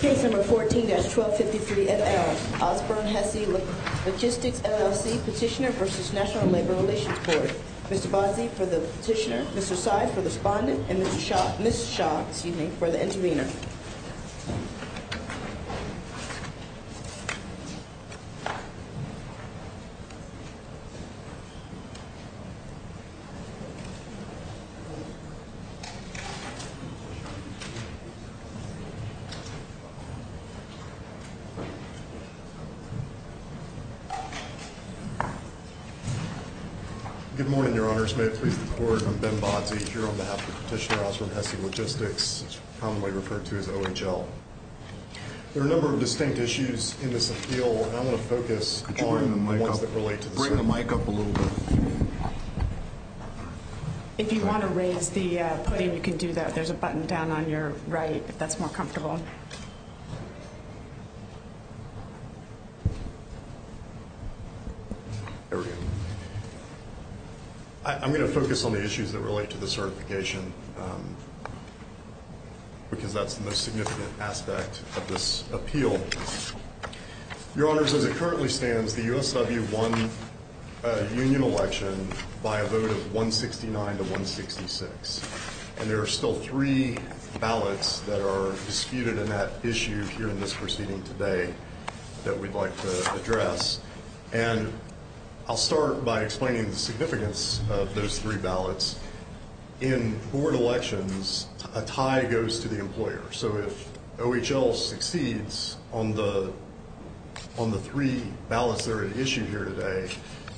Case No. 14-1253FL, Osburn-Hessey Logistics, LLC Petitioner v. National Labor Relations Board Mr. Bozzi for the petitioner, Mr. Seid for the respondent, and Ms. Shaw for the intervener Good morning, your honors. May it please the court, I'm Ben Bozzi, here on behalf of the petitioner, Osburn-Hessey Logistics, commonly referred to as OHL. There are a number of distinct issues in this appeal, and I'm going to focus on the ones that relate to this one. Could you bring the mic up a little bit? If you want to raise the podium, you can do that. There's a button down on your right if that's more comfortable. I'm going to focus on the issues that relate to the certification, because that's the most significant aspect of this appeal. Your honors, as it currently stands, the USW won a union election by a vote of 169-166, and there are still three ballots that are disputed in that issue here in this proceeding today that we'd like to address. And I'll start by explaining the significance of those three ballots. In board elections, a tie goes to the employer. So if OHL succeeds on the three ballots that are at issue here today,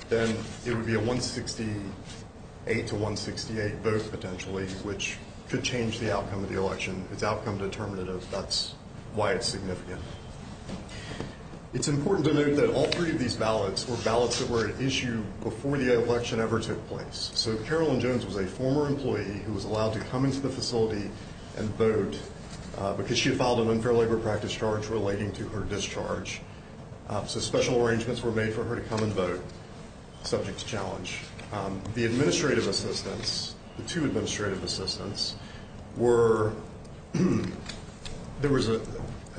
then it would be a 168-168 vote, potentially, which could change the outcome of the election. It's outcome determinative. That's why it's significant. It's important to note that all three of these ballots were ballots that were at issue before the election ever took place. So Carolyn because she had filed an unfair labor practice charge relating to her discharge. So special arrangements were made for her to come and vote, subject to challenge. The administrative assistants, the two administrative assistants, were, there was an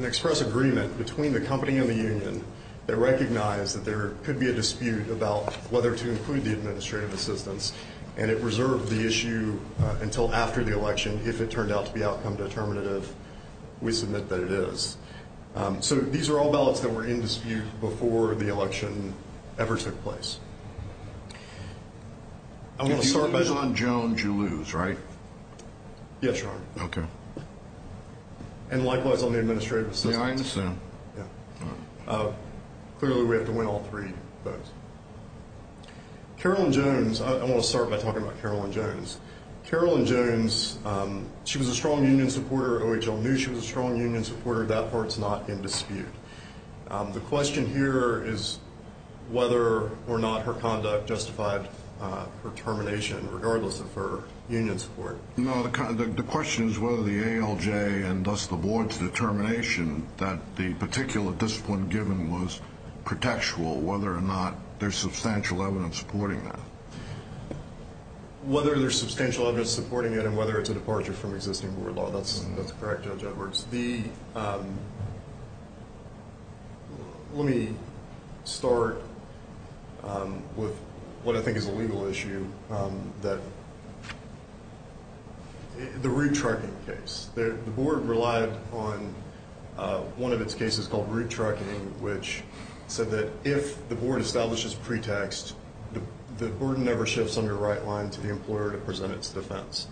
express agreement between the company and the union that recognized that there could be a dispute about whether to include the administrative assistants, and it reserved the issue until after the election if it turned out to be outcome determinative. We submit that it is. So these are all ballots that were in dispute before the election ever took place. If you lose on Jones, you lose, right? Yes, Your Honor. Okay. And likewise on the administrative assistants. Yeah, I understand. Yeah. Clearly we have to win all three votes. Carolyn Jones, I want to start by talking about Carolyn Jones. Carolyn Jones, she was a strong union supporter. OHL knew she was a strong union supporter. That part's not in dispute. The question here is whether or not her conduct justified her termination, regardless of her union support. No, the question is whether the ALJ and thus the board's determination that the particular discipline given was pretextual, whether or not there's substantial evidence supporting that. Whether there's substantial evidence supporting it and whether it's a departure from existing board law, that's correct, Judge Edwards. The, let me start with what I think is a legal issue, that the route trucking case. The board relied on one of its cases called route trucking, which said that if the board establishes pretext, the board never shifts on your right line to the employer to present its defense.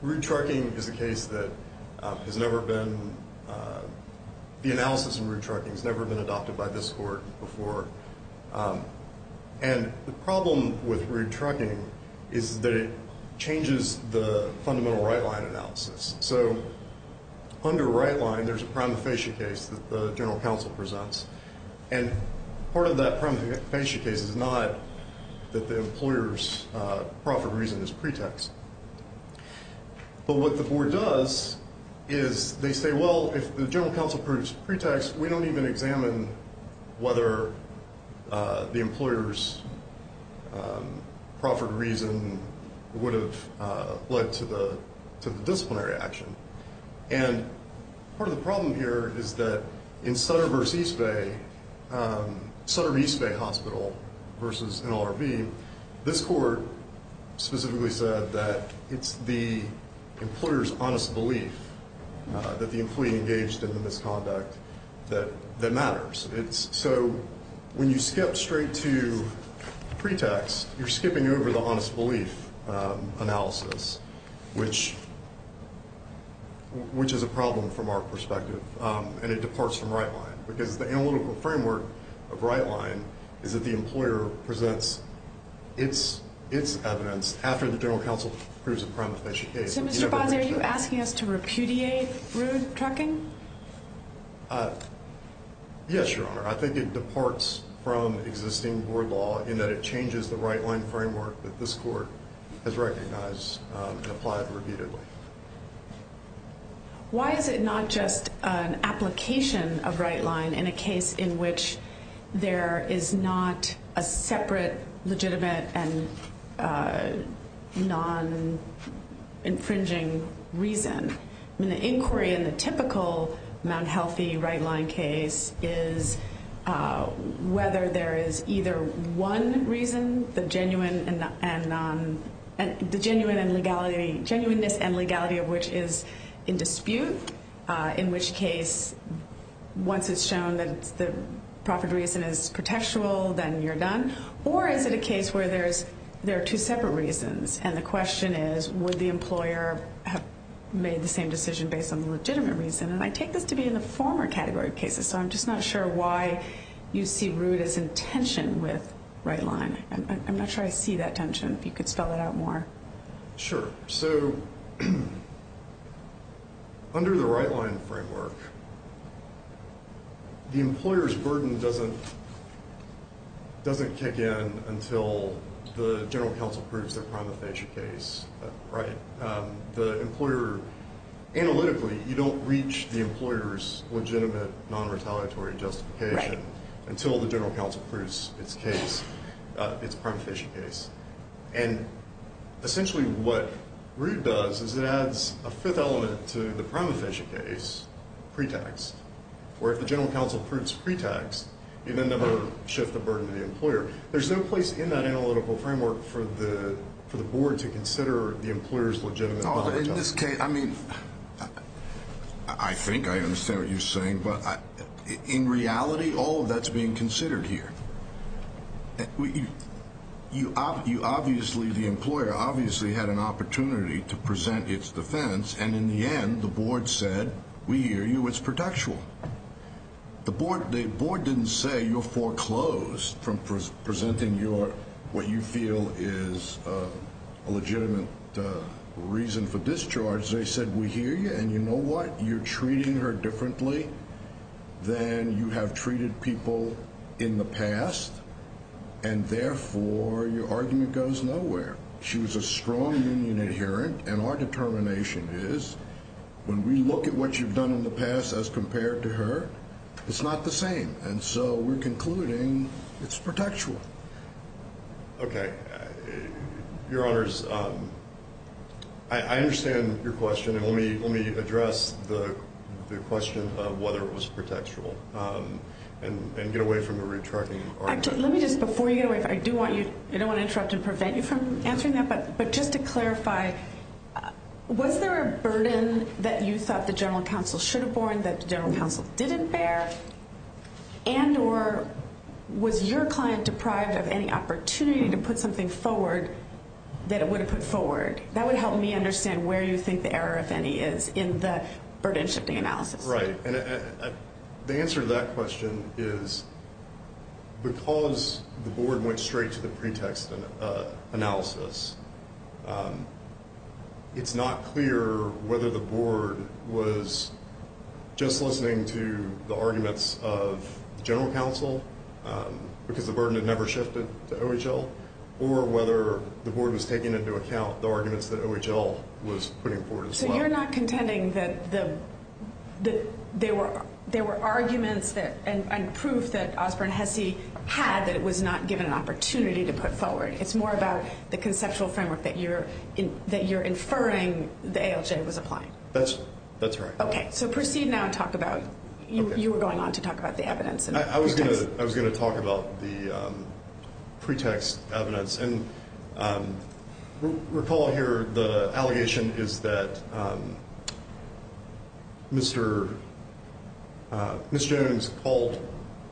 Route trucking is a case that has never been, the problem with route trucking is that it changes the fundamental right line analysis. So under right line, there's a prima facie case that the general counsel presents. And part of that prima facie case is not that the employer's profit reason is pretext. But what the board does is they say, well, if the general counsel proves pretext, we don't even examine whether the employer's profit reason would have led to the disciplinary action. And part of the problem here is that in Sutter versus East Bay, Sutter East Bay Hospital versus NLRB, this court specifically said that it's the employer's honest belief that the employee When you skip straight to pretext, you're skipping over the honest belief analysis, which is a problem from our perspective. And it departs from right line, because the analytical framework of right line is that the employer presents its evidence after the general counsel proves a prima facie case. So Mr. Bonzi, are you asking us to repudiate route trucking? Yes, Your Honor. I think it departs from existing board law in that it changes the right line framework that this court has recognized and applied repeatedly. Why is it not just an application of right line in a case in which there is not a separate legitimate and non-infringing reason? I mean, the inquiry in the typical Mount Healthy right line case is whether there is either one reason, the genuineness and legality of which is in dispute, in which case, once it's shown that the profit reason is pretextual, then you're asking, why is it a case where there are two separate reasons? And the question is, would the employer have made the same decision based on the legitimate reason? And I take this to be in the former category of cases, so I'm just not sure why you see route as in tension with right line. I'm not sure I see that tension. If you could spell it out more. Sure. So, under the right line framework, the employer's burden doesn't kick in until the general counsel approves their prima facie case. Analytically, you don't reach the employer's legitimate non-retaliatory justification until the general counsel approves its case, its essentially what route does is it adds a fifth element to the prima facie case, pretext, where if the general counsel approves pretext, you then never shift the burden to the employer. There's no place in that analytical framework for the board to consider the employer's legitimate non-retaliatory. In this case, I mean, I think I understand what you're saying, but in reality, all of that's being considered here. You obviously, the employer obviously had an opportunity to present its defense, and in the end, the board said, we hear you, it's pretextual. The board didn't say you're foreclosed from presenting what you feel is a legitimate reason for discharge. They said, we hear you, and you know what? You're treating her differently than you have treated people in the past, and therefore, your argument goes nowhere. She was a strong union adherent, and our determination is when we look at what you've done in the past as compared to her, it's not the same, and so we're concluding it's pretextual. Okay. Your Honors, I understand your question, and let me address the question of whether it was pretextual, and get away from the retargeting argument. Let me just, before you get away, I do want you, I don't want to interrupt and prevent you from answering that, but just to clarify, was there a burden that you thought the general counsel should have borne that the general counsel didn't bear, and or was your client deprived of any opportunity to put something forward that it would have put forward? That would help me understand where you think the error, if any, is in the burden-shifting analysis. Right, and the answer to that question is because the board went straight to the pretext analysis, it's not clear whether the board was just listening to the arguments of general counsel, because the burden had never shifted to OHL, or whether the board was taking into account the arguments that OHL was putting forward as well. So you're not contending that there were arguments and proof that Osborne-Hesse had that it was not given an opportunity to put forward. It's more about the conceptual framework that you're inferring the ALJ was applying. That's right. Okay, so proceed now and talk about, you were going on to talk about the evidence. I was going to talk about the pretext evidence, and recall here the allegation is that Mr. Jones called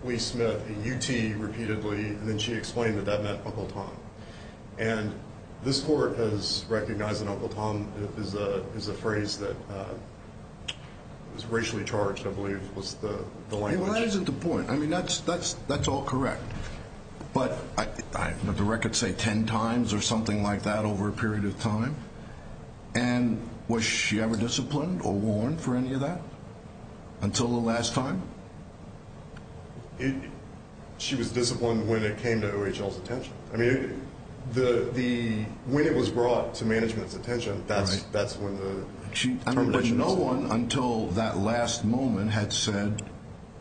Lee Smith a UT repeatedly, and then she explained that that meant Uncle Tom. And this court has recognized that Uncle Tom is a phrase that is racially charged, I believe, was the language. Well, that isn't the point. I mean, that's all correct. But I've heard the record say ten times or something like that over a period of time. And was she ever disciplined or warned for any of that until the last time? She was disciplined when it came to OHL's attention. I mean, when it was brought to management's No one until that last moment had said,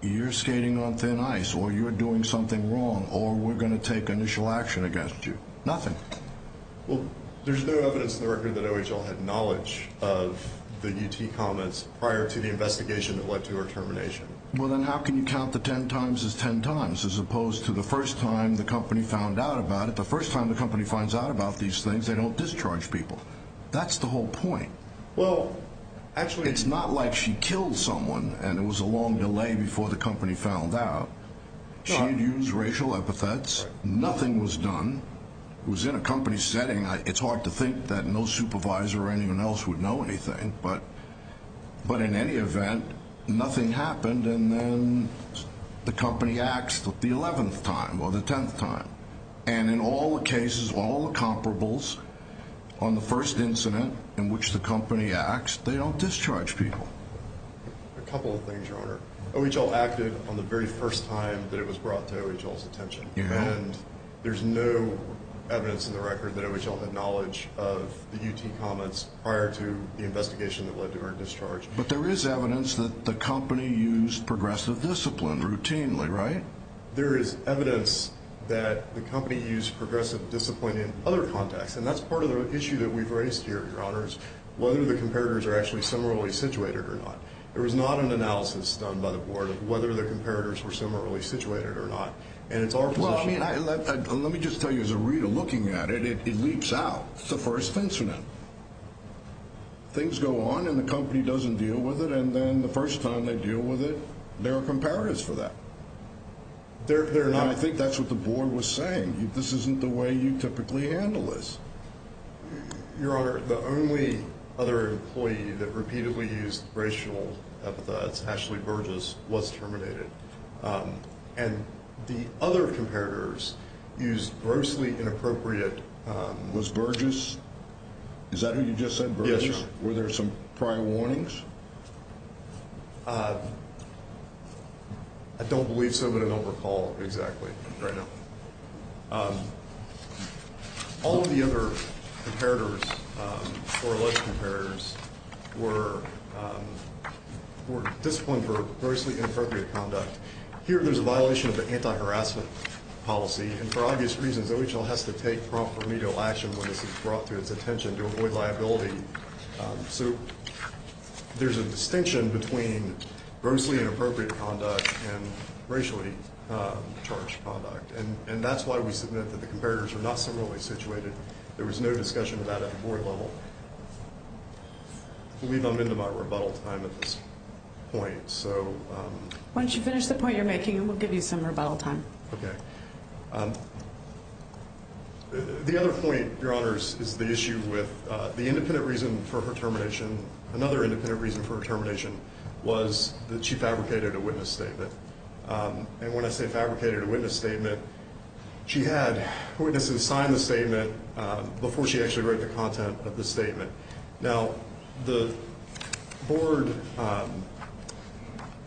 you're skating on thin ice, or you're doing something wrong, or we're going to take initial action against you. Nothing. Well, there's no evidence in the record that OHL had knowledge of the UT comments prior to the investigation that led to her termination. Well, then how can you count the ten times as ten times, as opposed to the first time the company found out about it? The first time the company finds out about these things, they don't discharge people. That's the whole point. Well, actually It's not like she killed someone and it was a long delay before the company found out. She'd used racial epithets. Nothing was done. It was in a company setting. It's hard to think that no supervisor or anyone else would know anything. But in any event, nothing happened, and then the company axed the 11th time or the 10th time. And in all the cases, all the comparables, on the first incident in which the company axed, they don't discharge people. A couple of things, Your Honor. OHL acted on the very first time that it was brought to OHL's attention, and there's no evidence in the record that OHL had knowledge of the UT comments prior to the investigation that led to her discharge. But there is evidence that the company used progressive discipline routinely, right? There is evidence that the company used progressive discipline in other contexts, and that's part of the issue that we've raised here, Your Honors, whether the comparators are actually similarly situated or not. There was not an analysis done by the board of whether the comparators were similarly situated or not. And it's our position Well, I mean, let me just tell you, as a reader looking at it, it leaps out. It's the first incident. Things go on and the company doesn't deal with it, and then the first time they deal with it, there are comparators for that. I think that's what the board was saying. This isn't the way you typically handle this. Your Honor, the only other employee that repeatedly used racial epithets, Ashley Burgess, was terminated. And the other comparators used grossly inappropriate. Was Burgess, is that who you just said? Yes, Your Honor. Were there some prior warnings? I don't believe so, but I don't recall exactly right now. All of the other comparators or alleged comparators were disciplined for grossly inappropriate conduct. Here, there's a violation of the anti-harassment policy, and for obvious reasons, OHL has to take prompt remedial action when this is brought to its attention to avoid liability. So there's a distinction between grossly inappropriate conduct and racially charged conduct. And that's why we submit that the comparators are not similarly situated. There was no discussion of that at the board level. I believe I'm into my rebuttal time at this point. Why don't you finish the point you're making, and we'll give you some rebuttal time. Okay. The other point, Your Honor, is the issue with the independent reason for her termination. Another independent reason for her termination was that she fabricated a witness statement. And when I say fabricated a witness statement, she had witnesses sign the statement before she actually wrote the content of the statement. Now, the board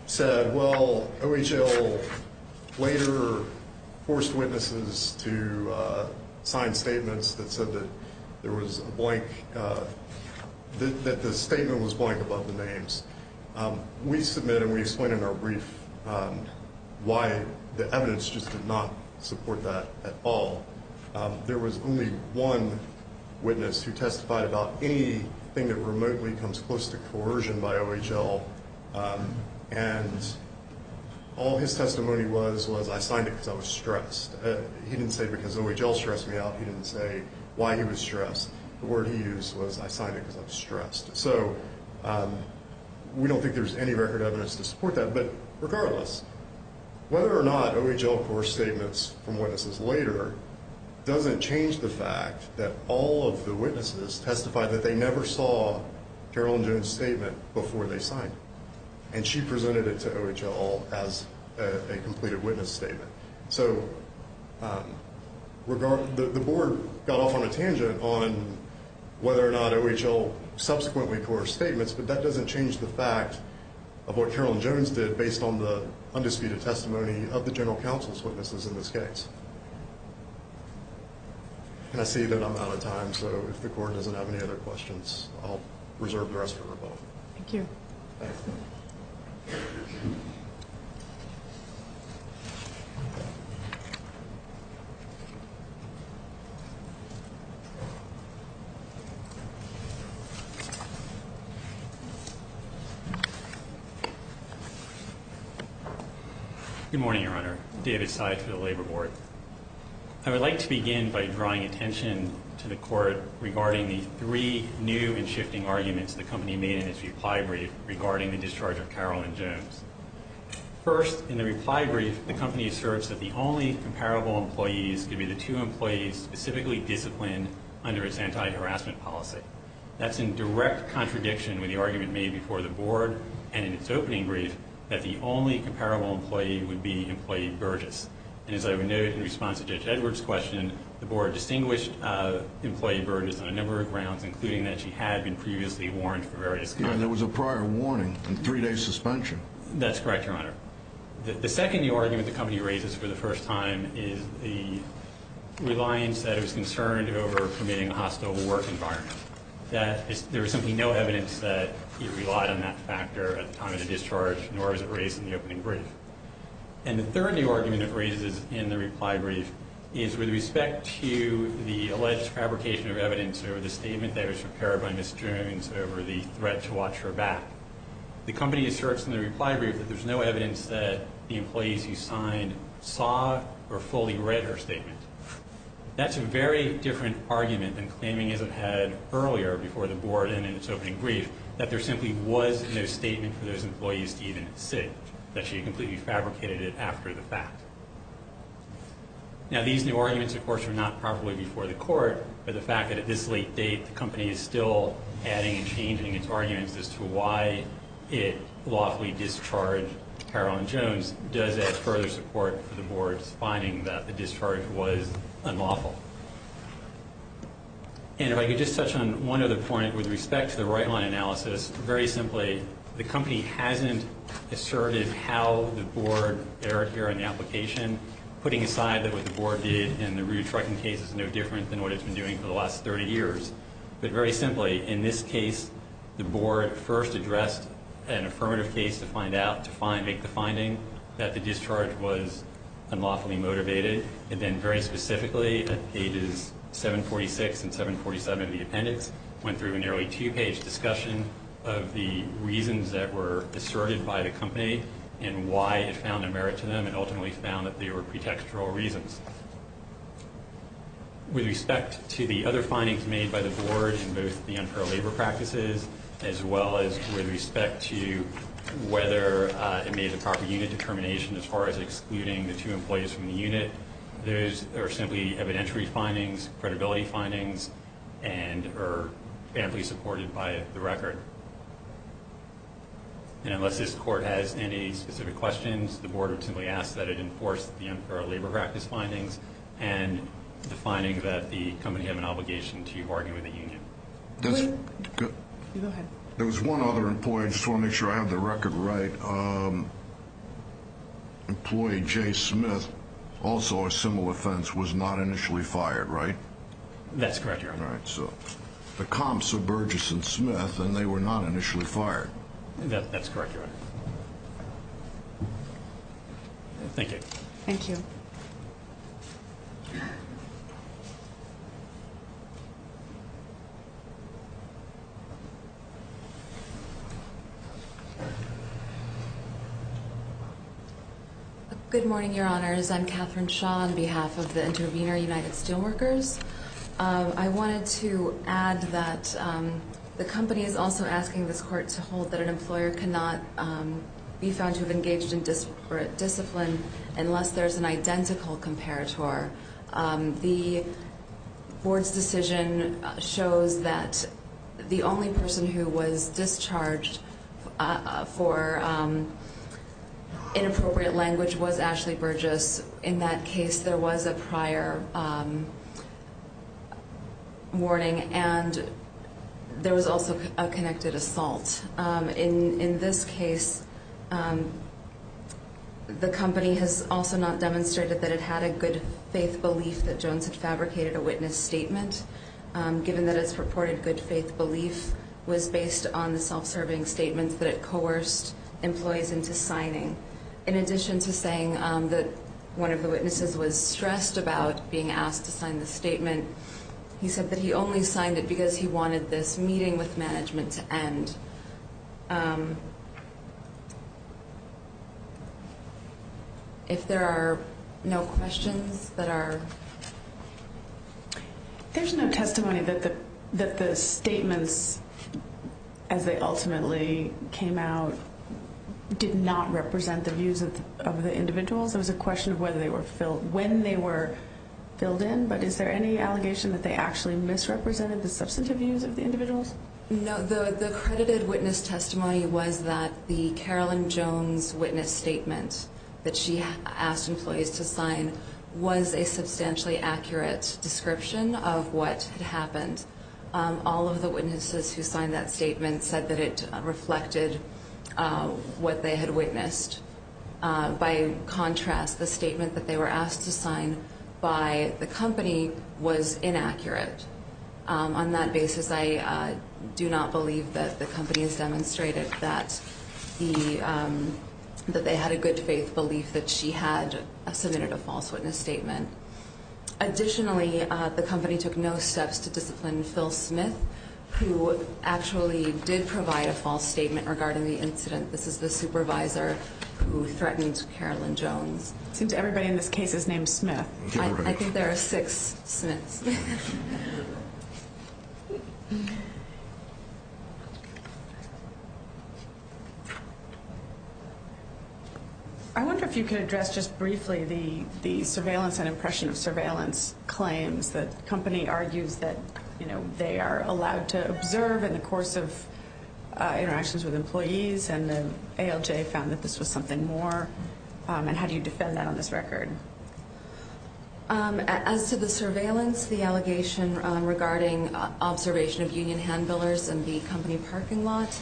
said, well, OHL later forced witnesses to sign statements that said that there was a blank, that the statement was blank above the names. We submit and we explain in our brief why the evidence just did not support that at all. There was only one witness who testified about anything that remotely comes close to coercion by OHL. And all his testimony was was I signed it because I was stressed. He didn't say because OHL stressed me out. He didn't say why he was stressed. The word he used was I signed it because I was stressed. So we don't think there's any record evidence to support that. But regardless, whether or not OHL coerced statements from witnesses later doesn't change the fact that all of the witnesses testified that they never saw Carolyn Jones' statement before they signed it. And she presented it to OHL as a completed witness statement. So the board got off on a tangent on whether or not OHL subsequently coerced statements. But that doesn't change the fact of what Carolyn Jones did based on the undisputed testimony of the general counsel's witnesses in this case. And I see that I'm out of time. So if the court doesn't have any other questions, I'll reserve the rest for her. Thank you. Thank you. Good morning, Your Honor. David Sides for the Labor Board. I would like to begin by drawing attention to the court regarding the three new and shifting arguments the company made in its reply brief regarding the discharge of Carolyn Jones. First, in the reply brief, the company asserts that the only comparable employees could be the two employees specifically disciplined under its anti-harassment policy. That's in direct contradiction with the argument made before the board and in its opening brief that the only comparable employee would be employee Burgess. And as I would note, in response to Judge Edwards' question, the board distinguished employee Burgess on a number of grounds, including that she had been previously warned for various counts. There was a prior warning and three-day suspension. That's correct, Your Honor. The second new argument the company raises for the first time is the reliance that it was concerned over permitting a hostile work environment, that there was simply no evidence that it relied on that factor at the time of the discharge, nor was it raised in the opening brief. And the third new argument it raises in the reply brief is with respect to the alleged fabrication of evidence over the statement that it was prepared by Ms. Jones over the threat to watch her back. The company asserts in the reply brief that there's no evidence that the employees who signed saw or fully read her statement. That's a very different argument than claiming as it had earlier before the board and in its opening brief that there simply was no statement for those employees to even sit, that she had completely fabricated it after the fact. Now, these new arguments, of course, were not properly before the court, but the fact that at this late date the company is still adding and changing its arguments as to why it lawfully discharged Carolyn Jones does add further support for the board's finding that the discharge was unlawful. And if I could just touch on one other point with respect to the right line analysis. Very simply, the company hasn't asserted how the board erred here in the application, putting aside that what the board did in the rear trucking case is no different than what it's been doing for the last 30 years. But very simply, in this case, the board first addressed an affirmative case to find out, to make the finding, that the discharge was unlawfully motivated. And then very specifically, at pages 746 and 747 of the appendix, went through a nearly two-page discussion of the reasons that were asserted by the company and why it found a merit to them and ultimately found that they were pretextual reasons. With respect to the other findings made by the board in both the unparalleled practices, as well as with respect to whether it made the proper unit determination as far as excluding the two employees from the unit, those are simply evidentiary findings, credibility findings, and are amply supported by the record. And unless this court has any specific questions, the board would simply ask that it enforce the unparalleled labor practice findings and the finding that the company had an obligation to argue with the union. That's good. Go ahead. There was one other employee. I just want to make sure I have the record right. Employee Jay Smith, also a similar offense, was not initially fired, right? That's correct, Your Honor. All right. So the comps are Burgess and Smith, and they were not initially fired. That's correct, Your Honor. Thank you. Thank you. Good morning, Your Honors. I'm Catherine Shaw on behalf of the intervener, United Steelworkers. I wanted to add that the company is also asking this court to hold that an employer cannot be found to have engaged in disparate discipline unless there's an identical comparator. The board's decision shows that the only person who was discharged for inappropriate language was Ashley Burgess. In that case, there was a prior warning, and there was also a connected assault. In this case, the company has also not demonstrated that it had a good-faith belief that Jones had fabricated a witness statement. Given that its purported good-faith belief was based on the self-serving statement that it coerced employees into signing. In addition to saying that one of the witnesses was stressed about being asked to sign the statement, he said that he only signed it because he wanted this meeting with management to end. If there are no questions that are... There's no testimony that the statements, as they ultimately came out, did not represent the views of the individuals. It was a question of when they were filled in, but is there any allegation that they actually misrepresented the substantive views of the individuals? No. The credited witness testimony was that the Carolyn Jones witness statement that she asked employees to sign was a substantially accurate description of what had happened. All of the witnesses who signed that statement said that it reflected what they had witnessed. By contrast, the statement that they were asked to sign by the company was inaccurate. On that basis, I do not believe that the company has demonstrated that they had a good-faith belief that she had submitted a false witness statement. Additionally, the company took no steps to discipline Phil Smith, who actually did provide a false statement regarding the incident. This is the supervisor who threatened Carolyn Jones. It seems everybody in this case is named Smith. I think there are six Smiths. I wonder if you could address just briefly the surveillance and impression of surveillance claims. The company argues that they are allowed to observe in the course of interactions with employees, and the ALJ found that this was something more. How do you defend that on this record? As to the surveillance, the allegation regarding observation of union hand-billers in the company parking lot,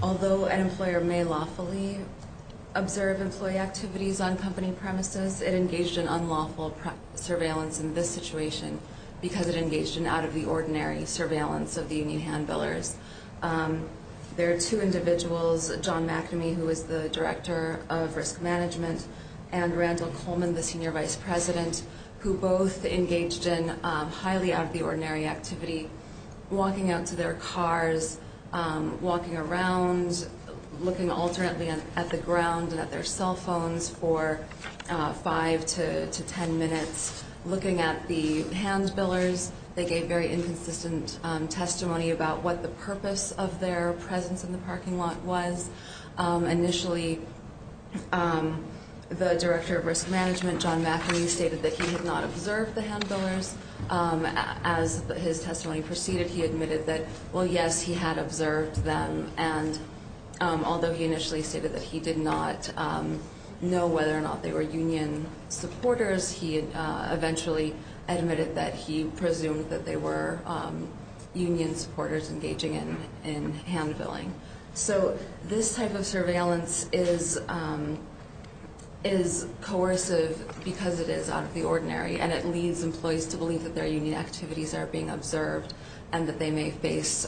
although an employer may lawfully observe employee activities on company premises, it engaged in unlawful surveillance in this situation because it engaged in out-of-the-ordinary surveillance of the union hand-billers. There are two individuals, John McNamee, who is the director of risk management, and Randall Coleman, the senior vice president, who both engaged in highly out-of-the-ordinary activity, walking out to their cars, walking around, looking alternately at the ground and at their cell phones for five to ten minutes, looking at the hand-billers. They gave very inconsistent testimony about what the purpose of their presence in the parking lot was. Initially, the director of risk management, John McNamee, stated that he had not observed the hand-billers. As his testimony proceeded, he admitted that, well, yes, he had observed them, and although he initially stated that he did not know whether or not they were union supporters, he eventually admitted that he presumed that they were union supporters engaging in hand-billing. So this type of surveillance is coercive because it is out-of-the-ordinary, and it leads employees to believe that their union activities are being observed and that they may face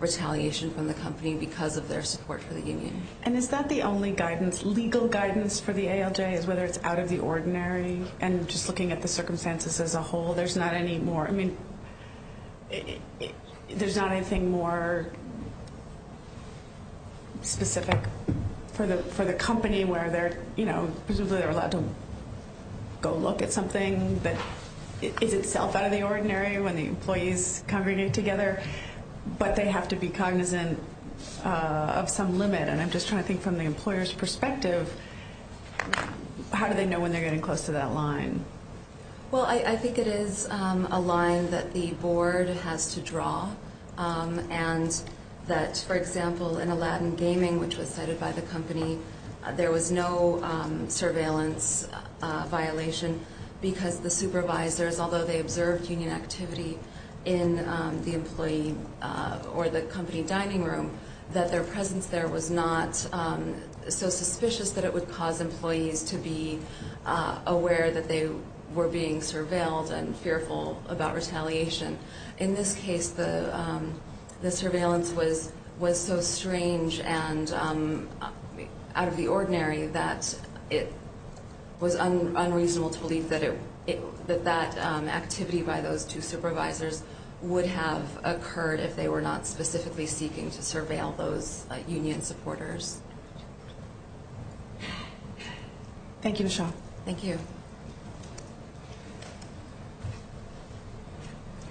retaliation from the company because of their support for the union. And is that the only guidance, legal guidance for the ALJ, is whether it's out-of-the-ordinary? And just looking at the circumstances as a whole, there's not any more, I mean, there's not anything more specific for the company where they're, you know, presumably they're allowed to go look at something that is itself out-of-the-ordinary when the employees congregate together, but they have to be cognizant of some limit. And I'm just trying to think from the employer's perspective, how do they know when they're getting close to that line? Well, I think it is a line that the board has to draw and that, for example, in Aladdin Gaming, which was cited by the company, there was no surveillance violation because the supervisors, although they observed union activity in the employee or the company dining room, that their presence there was not so suspicious that it would cause employees to be aware that they were being surveilled and fearful about retaliation. In this case, the surveillance was so strange and out-of-the-ordinary that it was unreasonable to believe that that activity by those two supervisors would have occurred if they were not specifically seeking to surveil those union supporters. Thank you, Michele. Thank you. Thank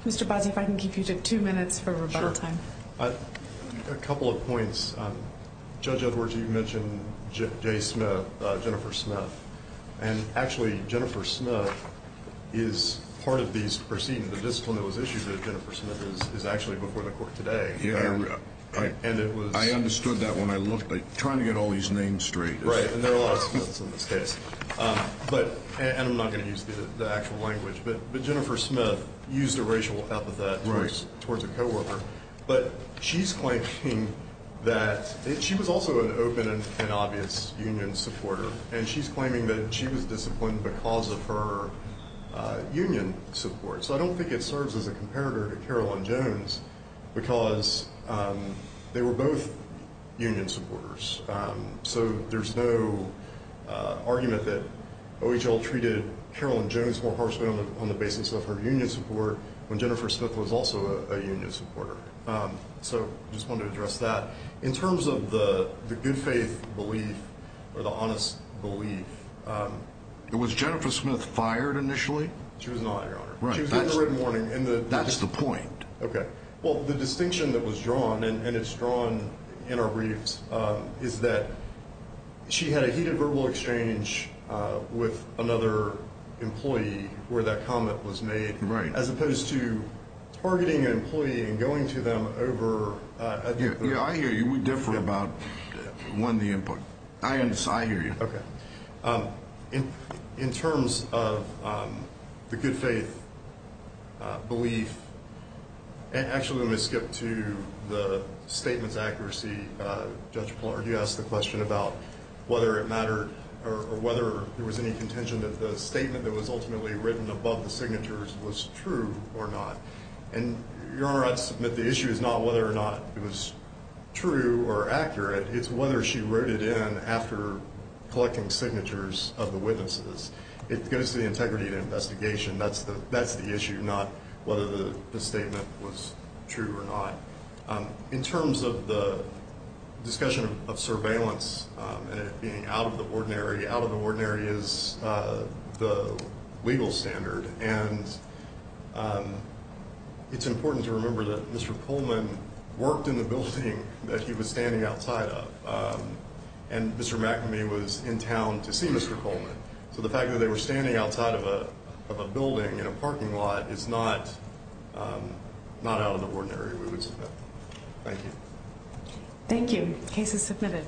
you. Mr. Bozzi, if I can keep you to two minutes for rebuttal time. Sure. A couple of points. Judge Edwards, you mentioned J. Smith, Jennifer Smith. And actually, Jennifer Smith is part of these proceedings. The discipline that was issued to Jennifer Smith is actually before the court today. I understood that when I looked. I'm trying to get all these names straight. Right, and there are a lot of Smiths in this case. And I'm not going to use the actual language, but Jennifer Smith used a racial epithet towards a coworker. But she's claiming that she was also an open and obvious union supporter, and she's claiming that she was disciplined because of her union support. So I don't think it serves as a comparator to Carolyn Jones because they were both union supporters. So there's no argument that OHL treated Carolyn Jones more harshly on the basis of her union support when Jennifer Smith was also a union supporter. So I just wanted to address that. In terms of the good faith belief or the honest belief. Was Jennifer Smith fired initially? She was not, Your Honor. She was given a written warning. That's the point. Okay. Well, the distinction that was drawn, and it's drawn in our briefs, is that she had a heated verbal exchange with another employee where that comment was made. Right. As opposed to targeting an employee and going to them over a different. Yeah, I hear you. We differ about, one, the input. I hear you. Okay. In terms of the good faith belief. Actually, let me skip to the statement's accuracy. Judge Plater, you asked the question about whether it mattered or whether there was any contention that the statement that was ultimately written above the signatures was true or not. And, Your Honor, I'd submit the issue is not whether or not it was true or accurate. It's whether she wrote it in after collecting signatures of the witnesses. It goes to the integrity of the investigation. That's the issue, not whether the statement was true or not. In terms of the discussion of surveillance and it being out of the ordinary, out of the ordinary is the legal standard. And it's important to remember that Mr. Coleman worked in the building that he was standing outside of. And Mr. McNamee was in town to see Mr. Coleman. So the fact that they were standing outside of a building in a parking lot is not out of the ordinary. Thank you. Thank you. Case is submitted.